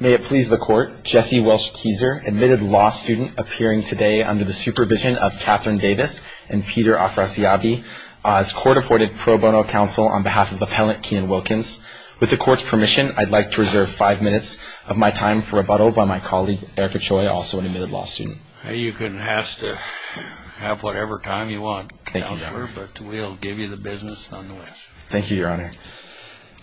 May it please the Court, Jesse Welch Keezer, admitted law student, appearing today under the supervision of Catherine Davis and Peter Afrasiabi, as court-appointed pro bono counsel on behalf of Appellant Keenan Wilkins. With the Court's permission, I'd like to reserve five minutes of my time for rebuttal by my colleague, Eric Ochoa, also an admitted law student. You can have whatever time you want, Counselor, but we'll give you the business nonetheless. Thank you, Your Honor.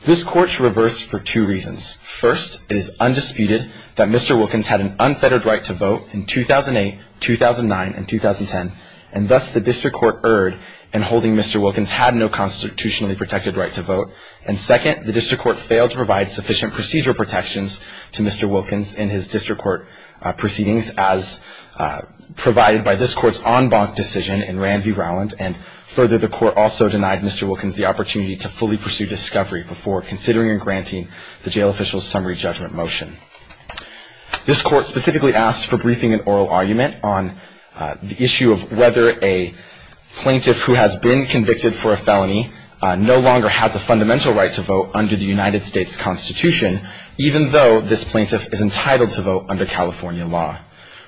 This Court's reversed for two reasons. First, it is undisputed that Mr. Wilkins had an unfettered right to vote in 2008, 2009, and 2010, and thus the District Court erred in holding Mr. Wilkins had no constitutionally protected right to vote. And second, the District Court failed to provide sufficient procedural protections to Mr. Wilkins in his District Court proceedings as provided by this Court's en banc decision in Rand v. Rowland. And further, the Court also denied Mr. Wilkins the opportunity to fully pursue discovery before considering and granting the jail official's summary judgment motion. This Court specifically asked for briefing and oral argument on the issue of whether a plaintiff who has been convicted for a felony no longer has a fundamental right to vote under the United States Constitution, even though this plaintiff is entitled to vote under California law.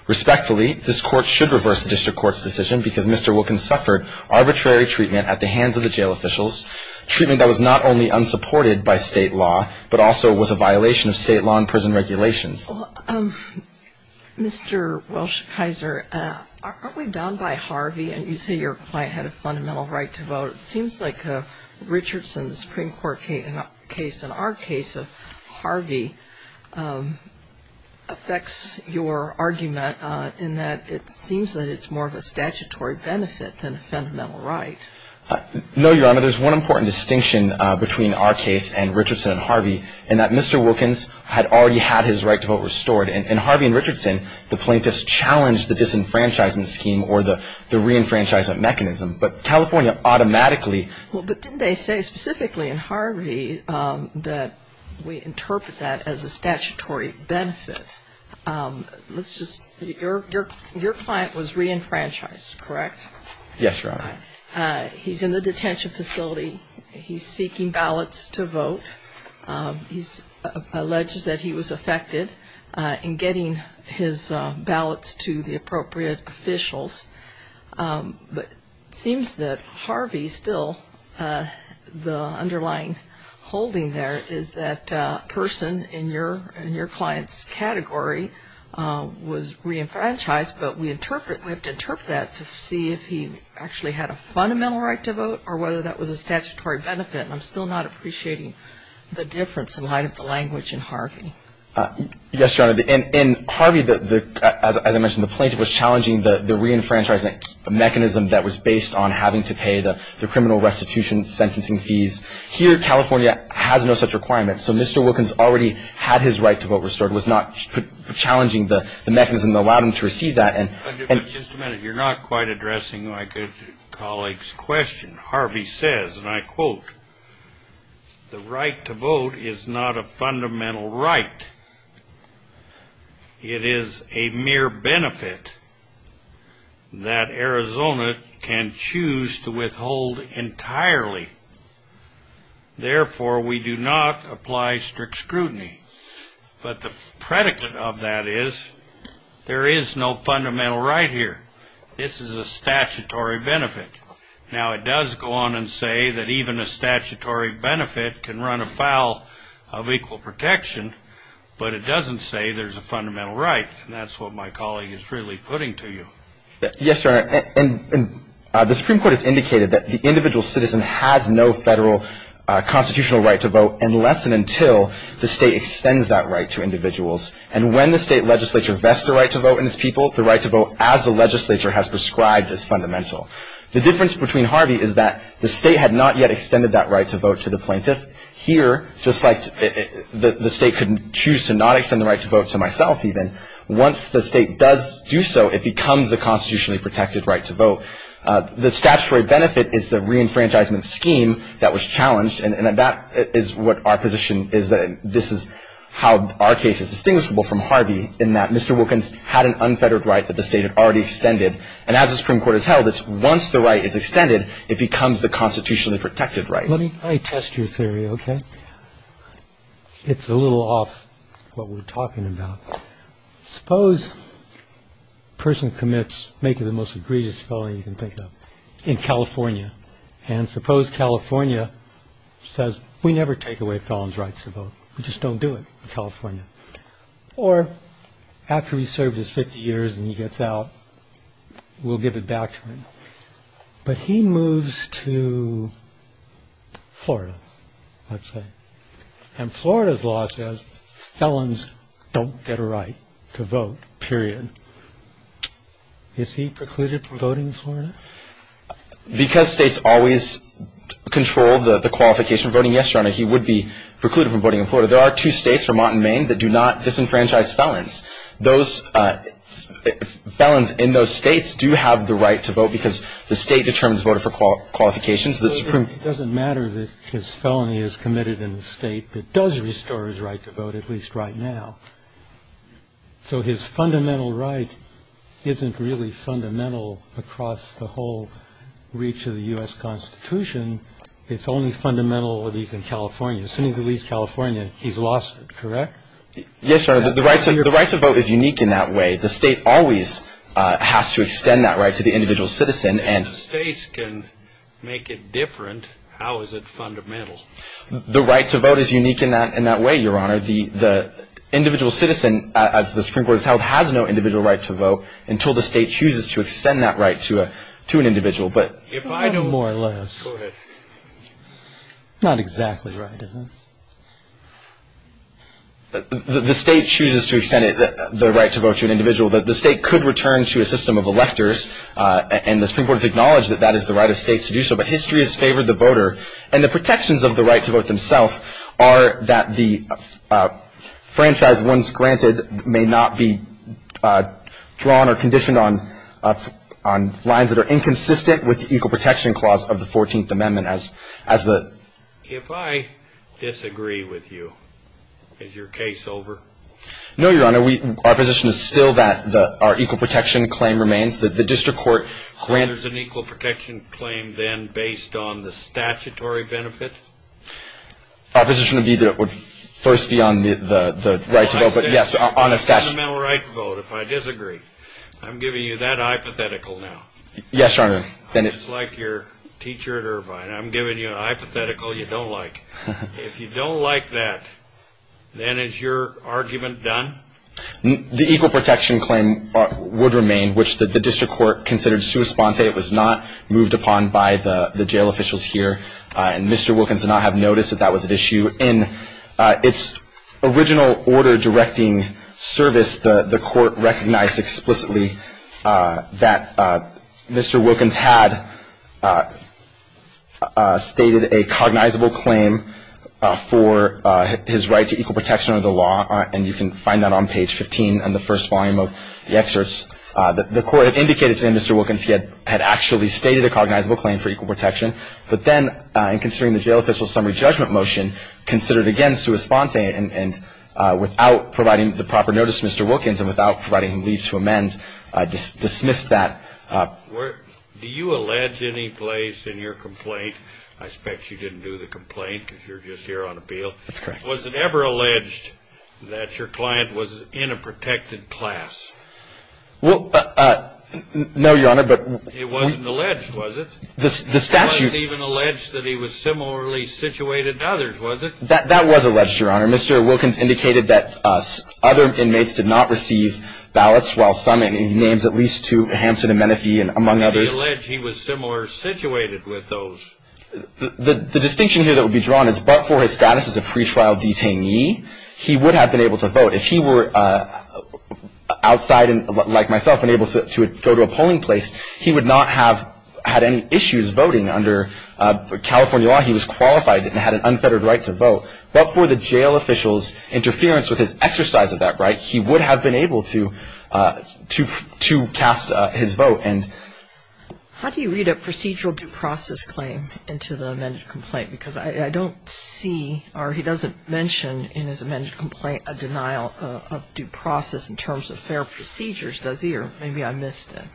Respectfully, this Court should reverse the District Court's decision because Mr. Wilkins suffered arbitrary treatment at the hands of the jail officials, treatment that was not only unsupported by state law, but also was a violation of state law and prison regulations. Well, Mr. Welch-Kaiser, aren't we bound by Harvey? You say your client had a fundamental right to vote. It seems like Richardson's Supreme Court case and our case of Harvey affects your argument in that it seems that it's more of a statutory benefit than a fundamental right. No, Your Honor. There's one important distinction between our case and Richardson and Harvey in that Mr. Wilkins had already had his right to vote restored. And Harvey and Richardson, the plaintiffs challenged the disenfranchisement scheme or the reenfranchisement mechanism. But California automatically – Well, but didn't they say specifically in Harvey that we interpret that as a statutory benefit? Let's just – your client was reenfranchised, correct? Yes, Your Honor. He's in the detention facility. He's seeking ballots to vote. He alleges that he was affected in getting his ballots to the appropriate officials. But it seems that Harvey still – the underlying holding there is that a person in your client's category was reenfranchised, but we interpret – we have to interpret that to see if he actually had a fundamental right to vote or whether that was a statutory benefit. And I'm still not appreciating the difference in light of the language in Harvey. Yes, Your Honor. In Harvey, as I mentioned, the plaintiff was challenging the reenfranchisement mechanism that was based on having to pay the criminal restitution sentencing fees. Here, California has no such requirements. So Mr. Wilkins already had his right to vote restored. It was not challenging the mechanism that allowed him to receive that. Just a minute. You're not quite addressing my colleague's question. Harvey says, and I quote, the right to vote is not a fundamental right. It is a mere benefit that Arizona can choose to withhold entirely. Therefore, we do not apply strict scrutiny. But the predicate of that is there is no fundamental right here. This is a statutory benefit. Now, it does go on and say that even a statutory benefit can run afoul of equal protection, but it doesn't say there's a fundamental right, and that's what my colleague is really putting to you. Yes, Your Honor. And the Supreme Court has indicated that the individual citizen has no federal constitutional right to vote unless and until the state extends that right to individuals. And when the state legislature vests the right to vote in its people, the right to vote as the legislature has prescribed is fundamental. The difference between Harvey is that the state had not yet extended that right to vote to the plaintiff. Here, just like the state could choose to not extend the right to vote to myself even, once the state does do so, it becomes the constitutionally protected right to vote. The statutory benefit is the reenfranchisement scheme that was challenged, and that is what our position is that this is how our case is distinguishable from Harvey, in that Mr. Wilkins had an unfettered right that the state had already extended. And as the Supreme Court has held, it's once the right is extended, it becomes the constitutionally protected right. Let me test your theory, okay? It's a little off what we're talking about. Suppose a person commits maybe the most egregious felony you can think of in California, and suppose California says we never take away felons' rights to vote. We just don't do it in California. Or after he's served his 50 years and he gets out, we'll give it back to him. But he moves to Florida, let's say, and Florida's law says felons don't get a right to vote, period. Is he precluded from voting in Florida? Because states always control the qualification of voting, yes, Your Honor, he would be precluded from voting in Florida. There are two states, Vermont and Maine, that do not disenfranchise felons. Felons in those states do have the right to vote because the state determines voter qualifications. It doesn't matter that his felony is committed in the state that does restore his right to vote, at least right now. So his fundamental right isn't really fundamental across the whole reach of the U.S. Constitution. It's only fundamental that he's in California. Assuming he leaves California, he's lost it, correct? Yes, Your Honor. The right to vote is unique in that way. The state always has to extend that right to the individual citizen. If the states can make it different, how is it fundamental? The right to vote is unique in that way, Your Honor. The individual citizen, as the Supreme Court has held, has no individual right to vote until the state chooses to extend that right to an individual. If I know more or less. Go ahead. Not exactly right, is it? The state chooses to extend the right to vote to an individual. The state could return to a system of electors, and the Supreme Court has acknowledged that that is the right of states to do so. But history has favored the voter. And the protections of the right to vote themselves are that the franchise once granted may not be drawn or conditioned on lines that are inconsistent with the equal protection clause of the 14th Amendment as the... If I disagree with you, is your case over? No, Your Honor. Our position is still that our equal protection claim remains. The district court... So there's an equal protection claim then based on the statutory benefit? Our position would be that it would first be on the right to vote. If I disagree, I'm giving you that hypothetical now. Yes, Your Honor. Just like your teacher at Irvine, I'm giving you a hypothetical you don't like. If you don't like that, then is your argument done? The equal protection claim would remain, which the district court considered sua sponte. It was not moved upon by the jail officials here. And Mr. Wilkins did not have notice that that was at issue. In its original order directing service, the court recognized explicitly that Mr. Wilkins had stated a cognizable claim for his right to equal protection under the law. And you can find that on page 15 in the first volume of the excerpts. The court had indicated to Mr. Wilkins he had actually stated a cognizable claim for equal protection. But then in considering the jail official's summary judgment motion, considered again sua sponte. And without providing the proper notice to Mr. Wilkins and without providing him leave to amend, dismissed that. Do you allege any place in your complaint? I suspect you didn't do the complaint because you're just here on appeal. That's correct. Was it ever alleged that your client was in a protected class? Well, no, Your Honor, but... It wasn't alleged, was it? The statute... It wasn't even alleged that he was similarly situated to others, was it? That was alleged, Your Honor. Mr. Wilkins indicated that other inmates did not receive ballots, while some, and he names at least two, Hampton and Menifee, among others... And he alleged he was similar situated with those. The distinction here that would be drawn is but for his status as a pretrial detainee, he would have been able to vote. If he were outside, like myself, and able to go to a polling place, he would not have had any issues voting under California law. He was qualified and had an unfettered right to vote. But for the jail official's interference with his exercise of that right, he would have been able to cast his vote. How do you read a procedural due process claim into the amended complaint? Because I don't see, or he doesn't mention in his amended complaint, a denial of due process in terms of fair procedures, does he? Or maybe I missed it.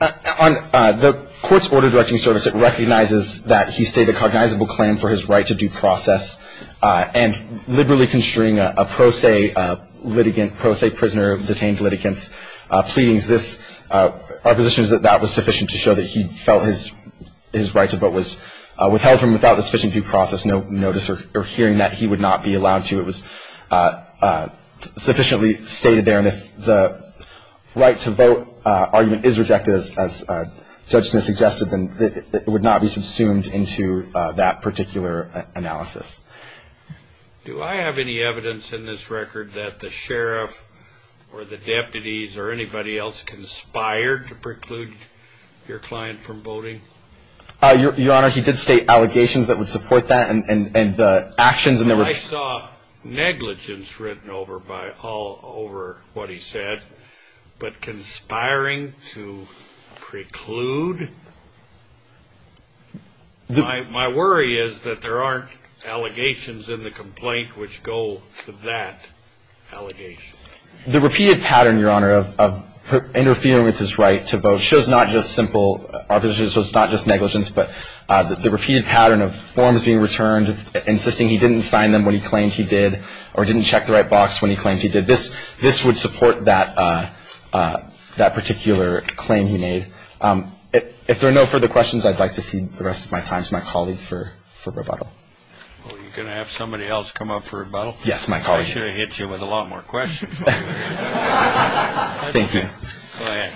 On the court's order directing service, it recognizes that he stated a cognizable claim for his right to due process and liberally constraining a pro se litigant, pro se prisoner of detained litigants, pleading this, our position is that that was sufficient to show that he felt his right to vote was withheld from without the sufficient due process notice or hearing that he would not be allowed to. It was sufficiently stated there. And if the right to vote argument is rejected, as Judge Smith suggested, then it would not be subsumed into that particular analysis. Do I have any evidence in this record that the sheriff or the deputies or anybody else conspired to preclude your client from voting? Your Honor, he did state allegations that would support that and the actions. I saw negligence written all over what he said. But conspiring to preclude? My worry is that there aren't allegations in the complaint which go to that allegation. The repeated pattern, Your Honor, of interfering with his right to vote shows not just simple, so it's not just negligence, but the repeated pattern of forms being returned, insisting he didn't sign them when he claimed he did or didn't check the right box when he claimed he did. This would support that particular claim he made. If there are no further questions, I'd like to see the rest of my time to my colleague for rebuttal. Well, are you going to have somebody else come up for rebuttal? Yes, my colleague. I should have hit you with a lot more questions. Thank you. Go ahead.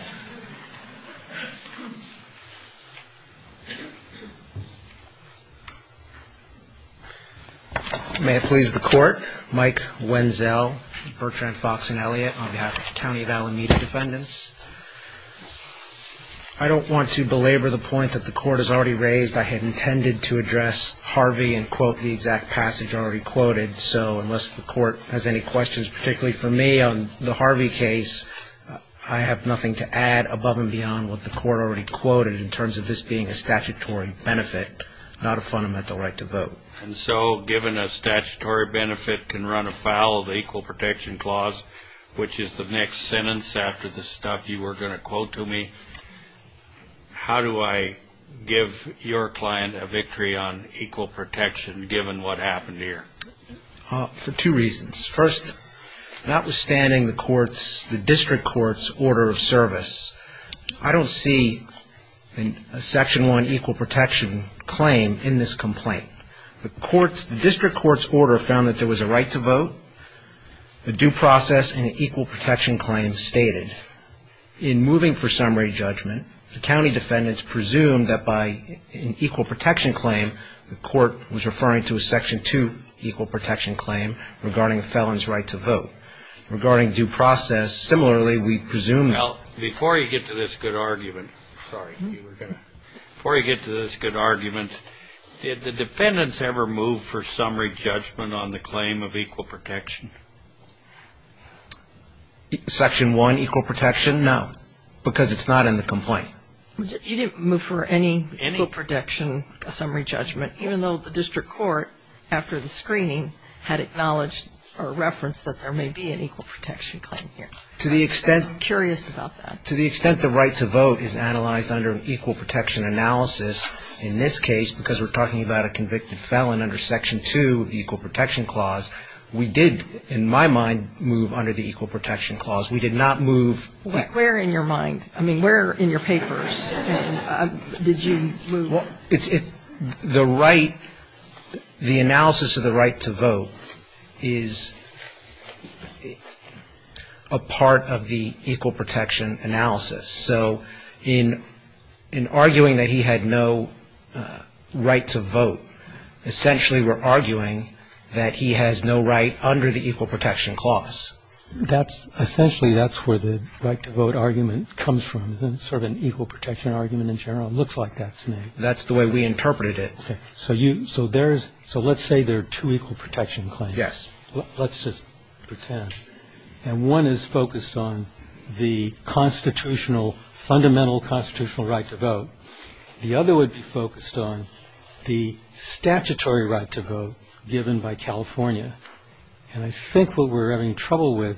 May it please the Court. Mike Wenzel, Bertrand, Fox, and Elliott on behalf of the County of Alameda defendants. I don't want to belabor the point that the Court has already raised. I had intended to address Harvey and quote the exact passage already quoted, so unless the Court has any questions, particularly for me on the Harvey case, I have nothing to add above and beyond what the Court already quoted in terms of this being a statutory benefit, not a fundamental right to vote. And so given a statutory benefit can run afoul of the Equal Protection Clause, which is the next sentence after the stuff you were going to quote to me, how do I give your client a victory on equal protection given what happened here? For two reasons. First, notwithstanding the District Court's order of service, I don't see a Section 1 equal protection claim in this complaint. The District Court's order found that there was a right to vote, a due process, and an equal protection claim stated. In moving for summary judgment, the county defendants presumed that by an equal protection claim, the Court was referring to a Section 2 equal protection claim regarding a felon's right to vote. Regarding due process, similarly, we presumed that. Well, before you get to this good argument, did the defendants ever move for summary judgment on the claim of equal protection? Section 1 equal protection? No, because it's not in the complaint. You didn't move for any equal protection summary judgment, even though the District Court, after the screening, had acknowledged or referenced that there may be an equal protection claim here. I'm curious about that. To the extent the right to vote is analyzed under an equal protection analysis, in this case, because we're talking about a convicted felon under Section 2 of the Equal Protection Clause, we did, in my mind, move under the Equal Protection Clause. We did not move. Where in your mind? I mean, where in your papers did you move? The right, the analysis of the right to vote is a part of the equal protection analysis. So in arguing that he had no right to vote, essentially we're arguing that he has no right under the Equal Protection Clause. Essentially, that's where the right to vote argument comes from, sort of an equal protection argument in general. It looks like that to me. That's the way we interpreted it. So let's say there are two equal protection claims. Yes. Let's just pretend. And one is focused on the constitutional, fundamental constitutional right to vote. The other would be focused on the statutory right to vote given by California. And I think what we're having trouble with,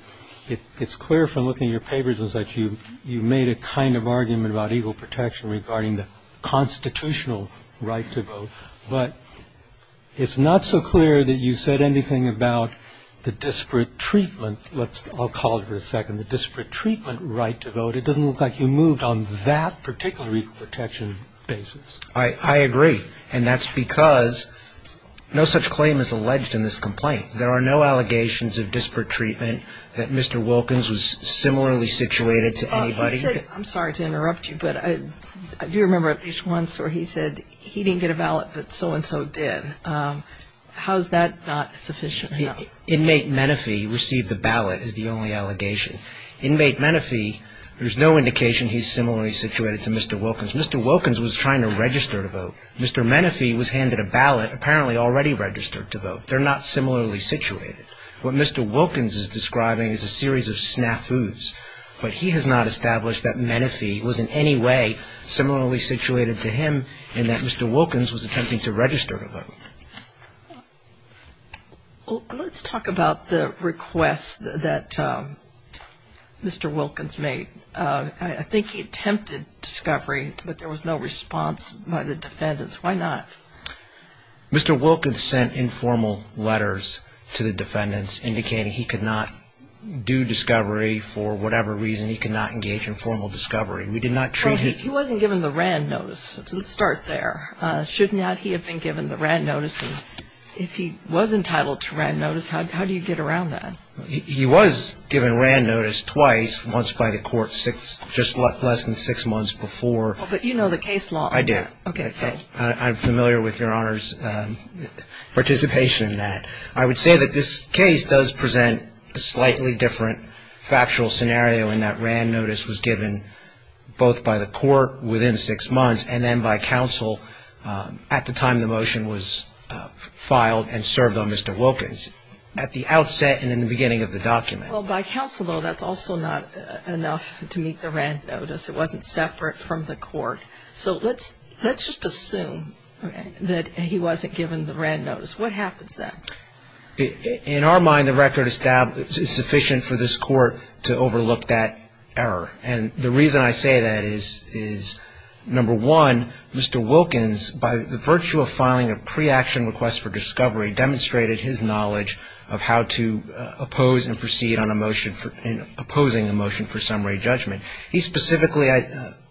it's clear from looking at your papers, is that you made a kind of argument about equal protection regarding the constitutional right to vote. But it's not so clear that you said anything about the disparate treatment, I'll call it for a second, the disparate treatment right to vote. It doesn't look like you moved on that particular equal protection basis. I agree. And that's because no such claim is alleged in this complaint. There are no allegations of disparate treatment that Mr. Wilkins was similarly situated to anybody. I'm sorry to interrupt you, but I do remember at least once where he said he didn't get a ballot but so-and-so did. How is that not sufficient? Inmate Menifee received a ballot is the only allegation. Inmate Menifee, there's no indication he's similarly situated to Mr. Wilkins. Mr. Wilkins was trying to register to vote. Mr. Menifee was handed a ballot, apparently already registered to vote. They're not similarly situated. What Mr. Wilkins is describing is a series of snafus. But he has not established that Menifee was in any way similarly situated to him and that Mr. Wilkins was attempting to register to vote. Let's talk about the request that Mr. Wilkins made. I think he attempted discovery, but there was no response by the defendants. Why not? Mr. Wilkins sent informal letters to the defendants indicating he could not do discovery for whatever reason, he could not engage in formal discovery. He wasn't given the RAND notice to start there. Should not he have been given the RAND notice? If he was entitled to RAND notice, how do you get around that? He was given RAND notice twice, once by the court just less than six months before. But you know the case law. I do. I'm familiar with Your Honor's participation in that. I would say that this case does present a slightly different factual scenario in that RAND notice was given both by the court within six months and then by counsel at the time the motion was filed and served on Mr. Wilkins at the outset and in the beginning of the document. Well, by counsel, though, that's also not enough to meet the RAND notice. It wasn't separate from the court. So let's just assume that he wasn't given the RAND notice. What happens then? In our mind, the record is sufficient for this court to overlook that error. And the reason I say that is, number one, Mr. Wilkins, by virtue of filing a pre-action request for discovery, demonstrated his knowledge of how to oppose and proceed on a motion and opposing a motion for summary judgment. He specifically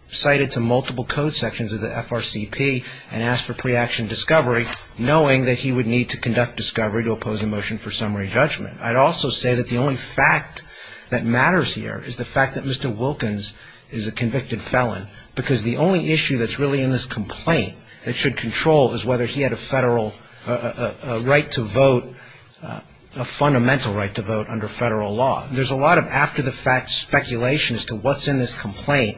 cited to multiple code sections of the FRCP and asked for pre-action discovery, knowing that he would need to conduct discovery to oppose a motion for summary judgment. I'd also say that the only fact that matters here is the fact that Mr. Wilkins is a convicted felon, because the only issue that's really in this complaint that should control is whether he had a federal right to vote, a fundamental right to vote under federal law. There's a lot of after-the-fact speculation as to what's in this complaint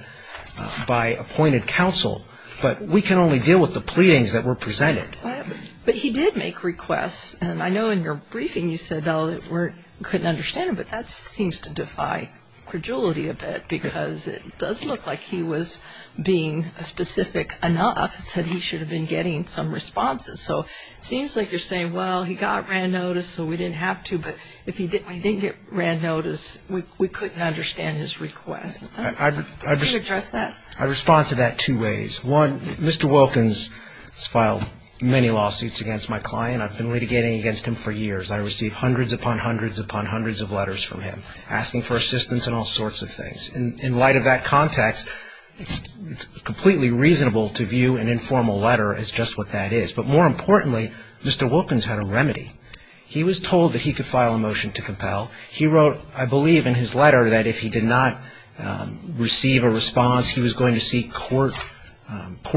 by appointed counsel, but we can only deal with the pleadings that were presented. But he did make requests, and I know in your briefing you said, though, that we couldn't understand him, but that seems to defy credulity a bit, because it does look like he was being specific enough that he should have been getting some responses. So it seems like you're saying, well, he got RAND notice, so we didn't have to, but if he didn't get RAND notice, we couldn't understand his request. Could you address that? I'd respond to that two ways. One, Mr. Wilkins has filed many lawsuits against my client. I've been litigating against him for years. I receive hundreds upon hundreds upon hundreds of letters from him asking for assistance and all sorts of things. In light of that context, it's completely reasonable to view an informal letter as just what that is. But more importantly, Mr. Wilkins had a remedy. He was told that he could file a motion to compel. He wrote, I believe, in his letter that if he did not receive a response, he was going to seek court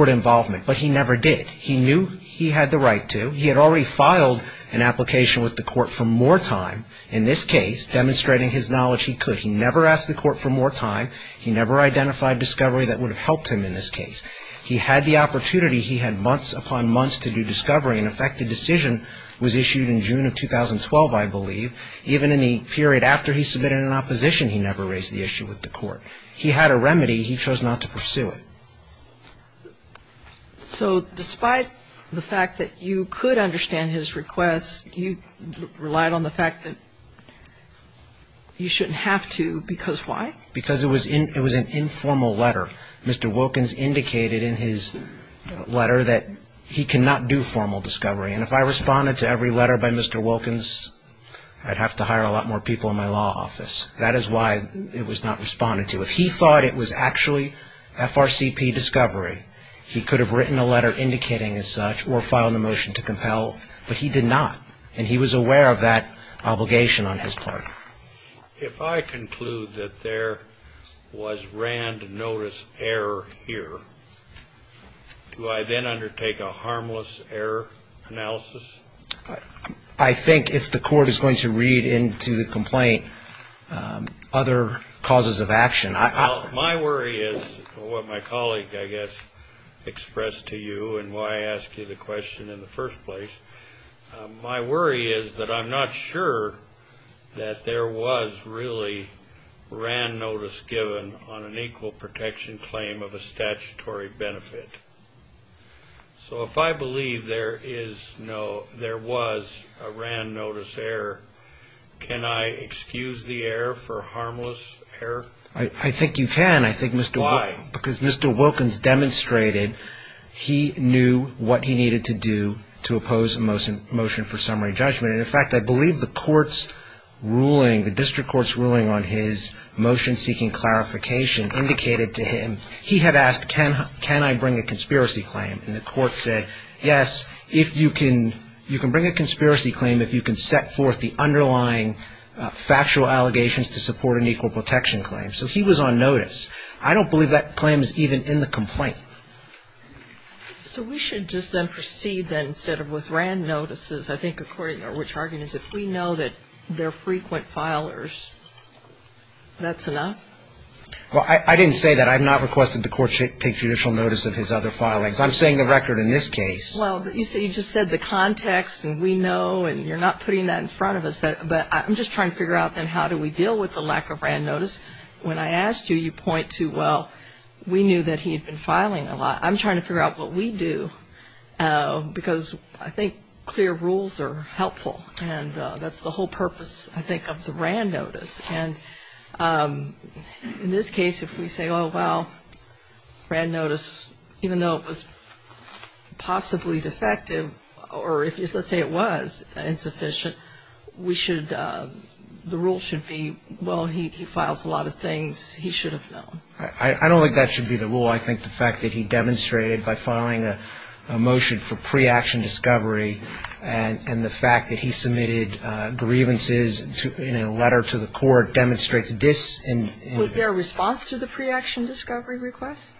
involvement, but he never did. He knew he had the right to. He had already filed an application with the court for more time, in this case, demonstrating his knowledge he could. He never asked the court for more time. He never identified discovery that would have helped him in this case. He had the opportunity. He had months upon months to do discovery. In effect, the decision was issued in June of 2012, I believe. Even in the period after he submitted an opposition, he never raised the issue with the court. He had a remedy. He chose not to pursue it. So despite the fact that you could understand his request, you relied on the fact that you shouldn't have to because why? Because it was an informal letter. Mr. Wilkins indicated in his letter that he cannot do formal discovery, and if I responded to every letter by Mr. Wilkins, I'd have to hire a lot more people in my law office. That is why it was not responded to. If he thought it was actually FRCP discovery, he could have written a letter indicating as such or filed a motion to compel, but he did not, and he was aware of that obligation on his part. If I conclude that there was rand notice error here, do I then undertake a harmless error analysis? I think if the court is going to read into the complaint other causes of action. My worry is what my colleague, I guess, expressed to you and why I asked you the question in the first place. My worry is that I'm not sure that there was really rand notice given on an equal protection claim of a statutory benefit. So if I believe there was a rand notice error, can I excuse the error for harmless error? I think you can. Why? Because Mr. Wilkins demonstrated he knew what he needed to do to oppose a motion for summary judgment. In fact, I believe the court's ruling, the district court's ruling on his motion seeking clarification indicated to him, he had asked, can I bring a conspiracy claim? And the court said, yes, you can bring a conspiracy claim if you can set forth the underlying factual allegations to support an equal protection claim. So he was on notice. I don't believe that claim is even in the complaint. So we should just then proceed then instead of with rand notices, I think according to which argument is if we know that they're frequent filers, that's enough? Well, I didn't say that. I have not requested the court take judicial notice of his other filings. I'm saying the record in this case. Well, but you just said the context and we know and you're not putting that in front of us. But I'm just trying to figure out then how do we deal with the lack of rand notice. When I asked you, you point to, well, we knew that he had been filing a lot. I'm trying to figure out what we do because I think clear rules are helpful and that's the whole purpose, I think, of the rand notice. And in this case, if we say, oh, well, rand notice, even though it was possibly defective or let's say it was insufficient, we should, the rule should be, well, he files a lot of things he should have known. I don't think that should be the rule. I think the fact that he demonstrated by filing a motion for pre-action discovery and the fact that he submitted grievances in a letter to the court demonstrates this in. Was there a response to the pre-action discovery request?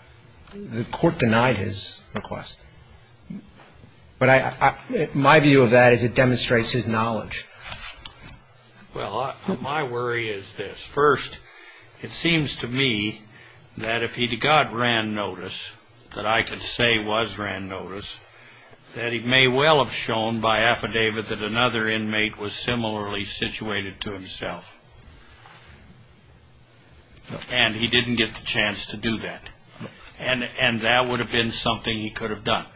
The court denied his request. But my view of that is it demonstrates his knowledge. Well, my worry is this. First, it seems to me that if he got rand notice, that I could say was rand notice, that he may well have shown by affidavit that another inmate was similarly situated to himself. And he didn't get the chance to do that. And that would have been something he could have done.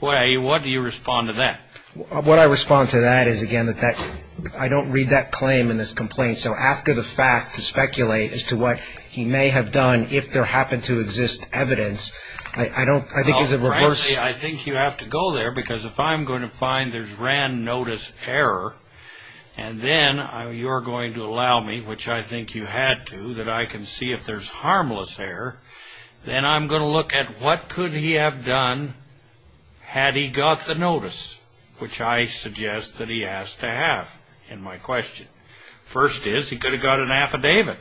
Way, what do you respond to that? What I respond to that is, again, that I don't read that claim in this complaint. So after the fact to speculate as to what he may have done if there happened to exist evidence, I don't, I think it's a reverse. Well, frankly, I think you have to go there because if I'm going to find there's rand notice error and then you're going to allow me, which I think you had to, that I can see if there's harmless error, then I'm going to look at what could he have done had he got the notice, which I suggest that he has to have in my question. First is he could have got an affidavit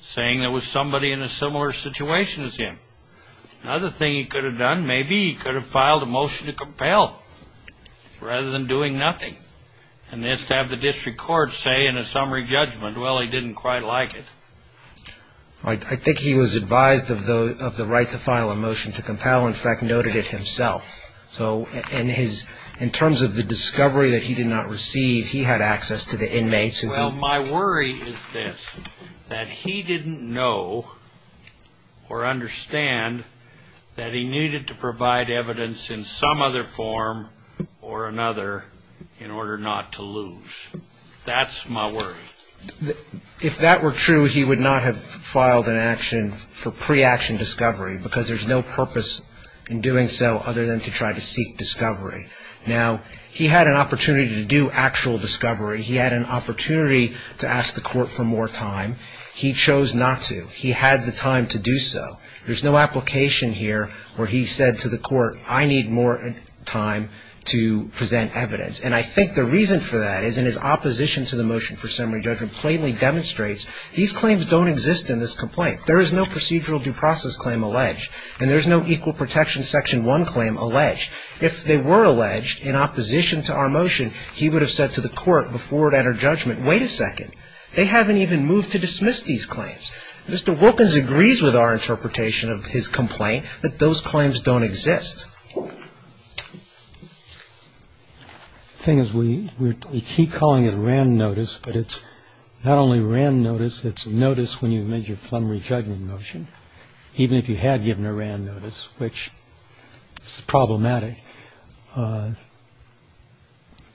saying there was somebody in a similar situation as him. Another thing he could have done, maybe he could have filed a motion to compel rather than doing nothing. And this to have the district court say in a summary judgment, well, he didn't quite like it. I think he was advised of the right to file a motion to compel, in fact, noted it himself. So in terms of the discovery that he did not receive, he had access to the inmates. Well, my worry is this, that he didn't know or understand that he needed to provide evidence in some other form or another in order not to lose. That's my worry. If that were true, he would not have filed an action for pre-action discovery because there's no purpose in doing so other than to try to seek discovery. Now, he had an opportunity to do actual discovery. He had an opportunity to ask the court for more time. He chose not to. He had the time to do so. There's no application here where he said to the court, I need more time to present evidence. And I think the reason for that is in his opposition to the motion for summary judgment plainly demonstrates these claims don't exist in this complaint. There is no procedural due process claim alleged, and there's no equal protection section 1 claim alleged. If they were alleged in opposition to our motion, he would have said to the court before it entered judgment, wait a second. They haven't even moved to dismiss these claims. Mr. Wilkins agrees with our interpretation of his complaint that those claims don't exist. The thing is we keep calling it a RAND notice, but it's not only a RAND notice, it's a notice when you've made your summary judgment motion, even if you had given a RAND notice, which is problematic.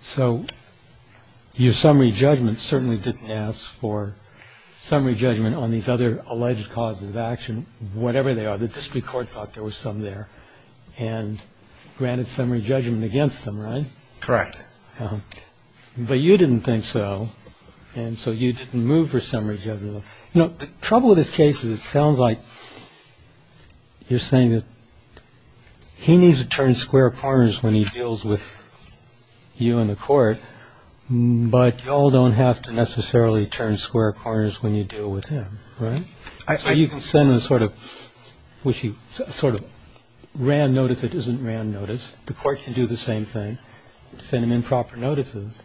So your summary judgment certainly didn't ask for summary judgment on these other alleged causes of action, whatever they are. The district court thought there was some there and granted summary judgment against them, right? Correct. But you didn't think so, and so you didn't move for summary judgment. So, you know, the trouble with this case is it sounds like you're saying that he needs to turn square corners when he deals with you in the court. But you all don't have to necessarily turn square corners when you deal with him. Right. So you can send a sort of wishy sort of RAND notice. It isn't RAND notice. The court can do the same thing, send him improper notices.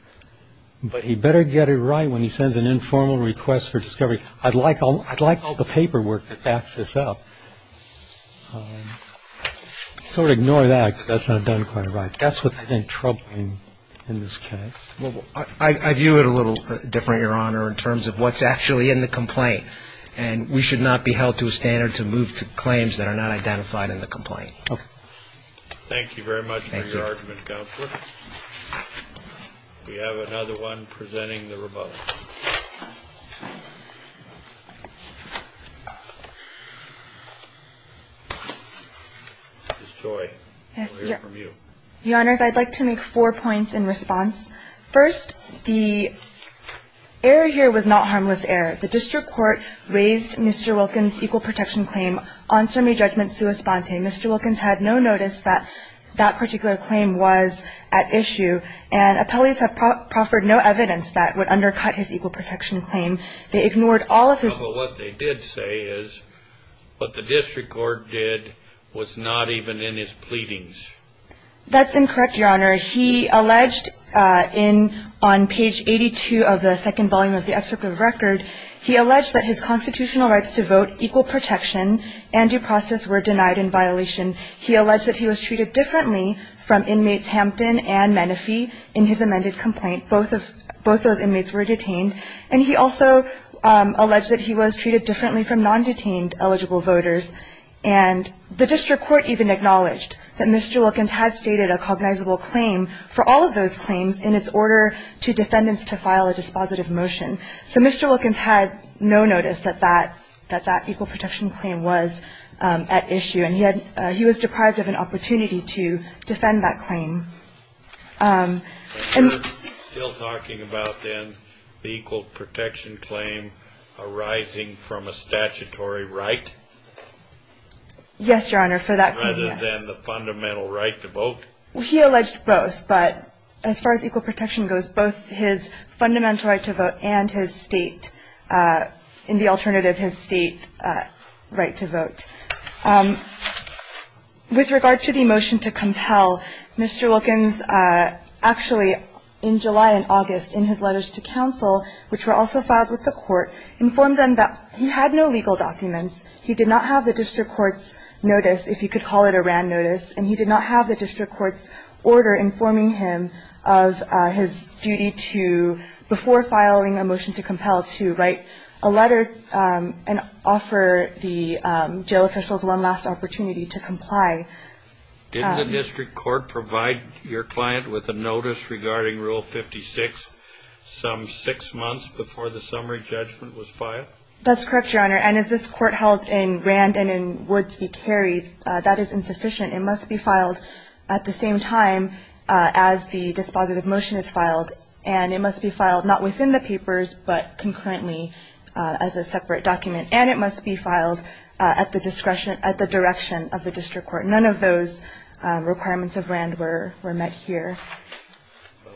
But he better get it right when he sends an informal request for discovery. I'd like all the paperwork that backs this up. Sort of ignore that because that's not done quite right. That's what I think troubling in this case. I view it a little different, Your Honor, in terms of what's actually in the complaint. And we should not be held to a standard to move to claims that are not identified in the complaint. Okay. Thank you very much for your argument, Counselor. Thank you. We have another one presenting the rebuttal. Ms. Joy, we'll hear from you. Your Honors, I'd like to make four points in response. First, the error here was not harmless error. The district court raised Mr. Wilkins' equal protection claim on summary judgment Mr. Wilkins had no notice that that particular claim was at issue, and appellees have proffered no evidence that would undercut his equal protection claim. They ignored all of his ---- What they did say is what the district court did was not even in his pleadings. That's incorrect, Your Honor. He alleged on page 82 of the second volume of the excerpt of the record, he alleged that his constitutional rights to vote, equal protection, and due process were denied in violation. He alleged that he was treated differently from inmates Hampton and Menefee in his amended complaint. Both of those inmates were detained. And he also alleged that he was treated differently from non-detained eligible voters. And the district court even acknowledged that Mr. Wilkins had stated a cognizable claim for all of those claims in its order to defendants to file a dispositive motion. So Mr. Wilkins had no notice that that equal protection claim was at issue, and he was deprived of an opportunity to defend that claim. And you're still talking about, then, the equal protection claim arising from a statutory right? Yes, Your Honor, for that claim, yes. Rather than the fundamental right to vote? He alleged both, but as far as equal protection goes, both his fundamental right to vote and his state, in the alternative, his state right to vote. With regard to the motion to compel, Mr. Wilkins actually, in July and August, in his letters to counsel, which were also filed with the court, informed them that he had no legal documents. He did not have the district court's notice, if you could call it a RAND notice, and he did not have the district court's order informing him of his duty to, before filing a motion to compel, to write a letter and offer the jail officials one last opportunity to comply. Didn't the district court provide your client with a notice regarding Rule 56 some six months before the summary judgment was filed? That's correct, Your Honor. And as this court held in RAND and in Woods v. Carey, that is insufficient. It must be filed at the same time as the dispositive motion is filed, and it must be filed not within the papers but concurrently as a separate document, and it must be filed at the discretion, at the direction of the district court. None of those requirements of RAND were met here.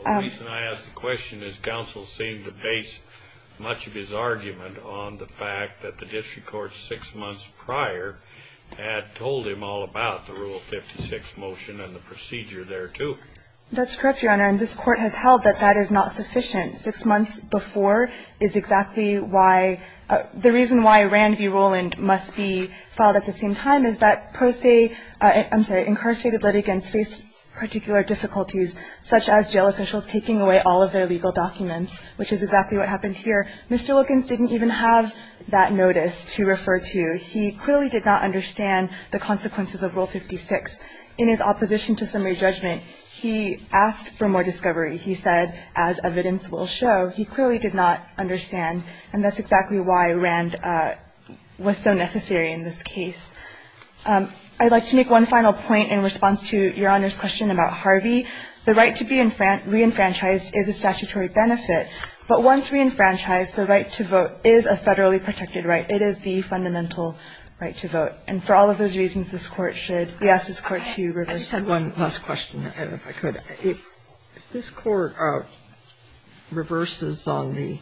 The reason I ask the question is counsel seemed to base much of his argument on the fact that the district court six months prior had told him all about the Rule 56 motion and the procedure thereto. That's correct, Your Honor. And this court has held that that is not sufficient. Six months before is exactly why the reason why RAND v. Roland must be filed at the same time is that pro se, I'm sorry, incarcerated litigants face particular difficulties, such as jail officials taking away all of their legal documents, which is exactly what happened here. Mr. Wilkins didn't even have that notice to refer to. He clearly did not understand the consequences of Rule 56. In his opposition to summary judgment, he asked for more discovery. He said, as evidence will show, he clearly did not understand. And that's exactly why RAND was so necessary in this case. I'd like to make one final point in response to Your Honor's question about Harvey. The right to be reenfranchised is a statutory benefit. But once reenfranchised, the right to vote is a federally protected right. It is the fundamental right to vote. And for all of those reasons, this Court should ask this Court to reverse it. I just have one last question, if I could. If this Court reverses on the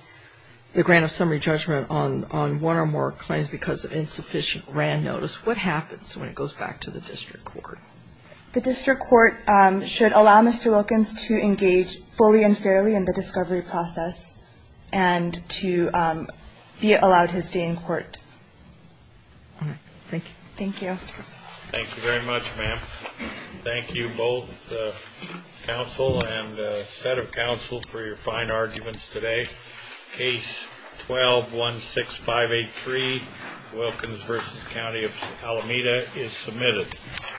grant of summary judgment on one or more claims because of insufficient RAND notice, what happens when it goes back to the district court? The district court should allow Mr. Wilkins to engage fully and fairly in the discovery process and to be allowed his day in court. All right. Thank you. Thank you. Thank you very much, ma'am. Thank you, both counsel and set of counsel, for your fine arguments today. Case 12-16583, Wilkins v. County of Alameda, is submitted.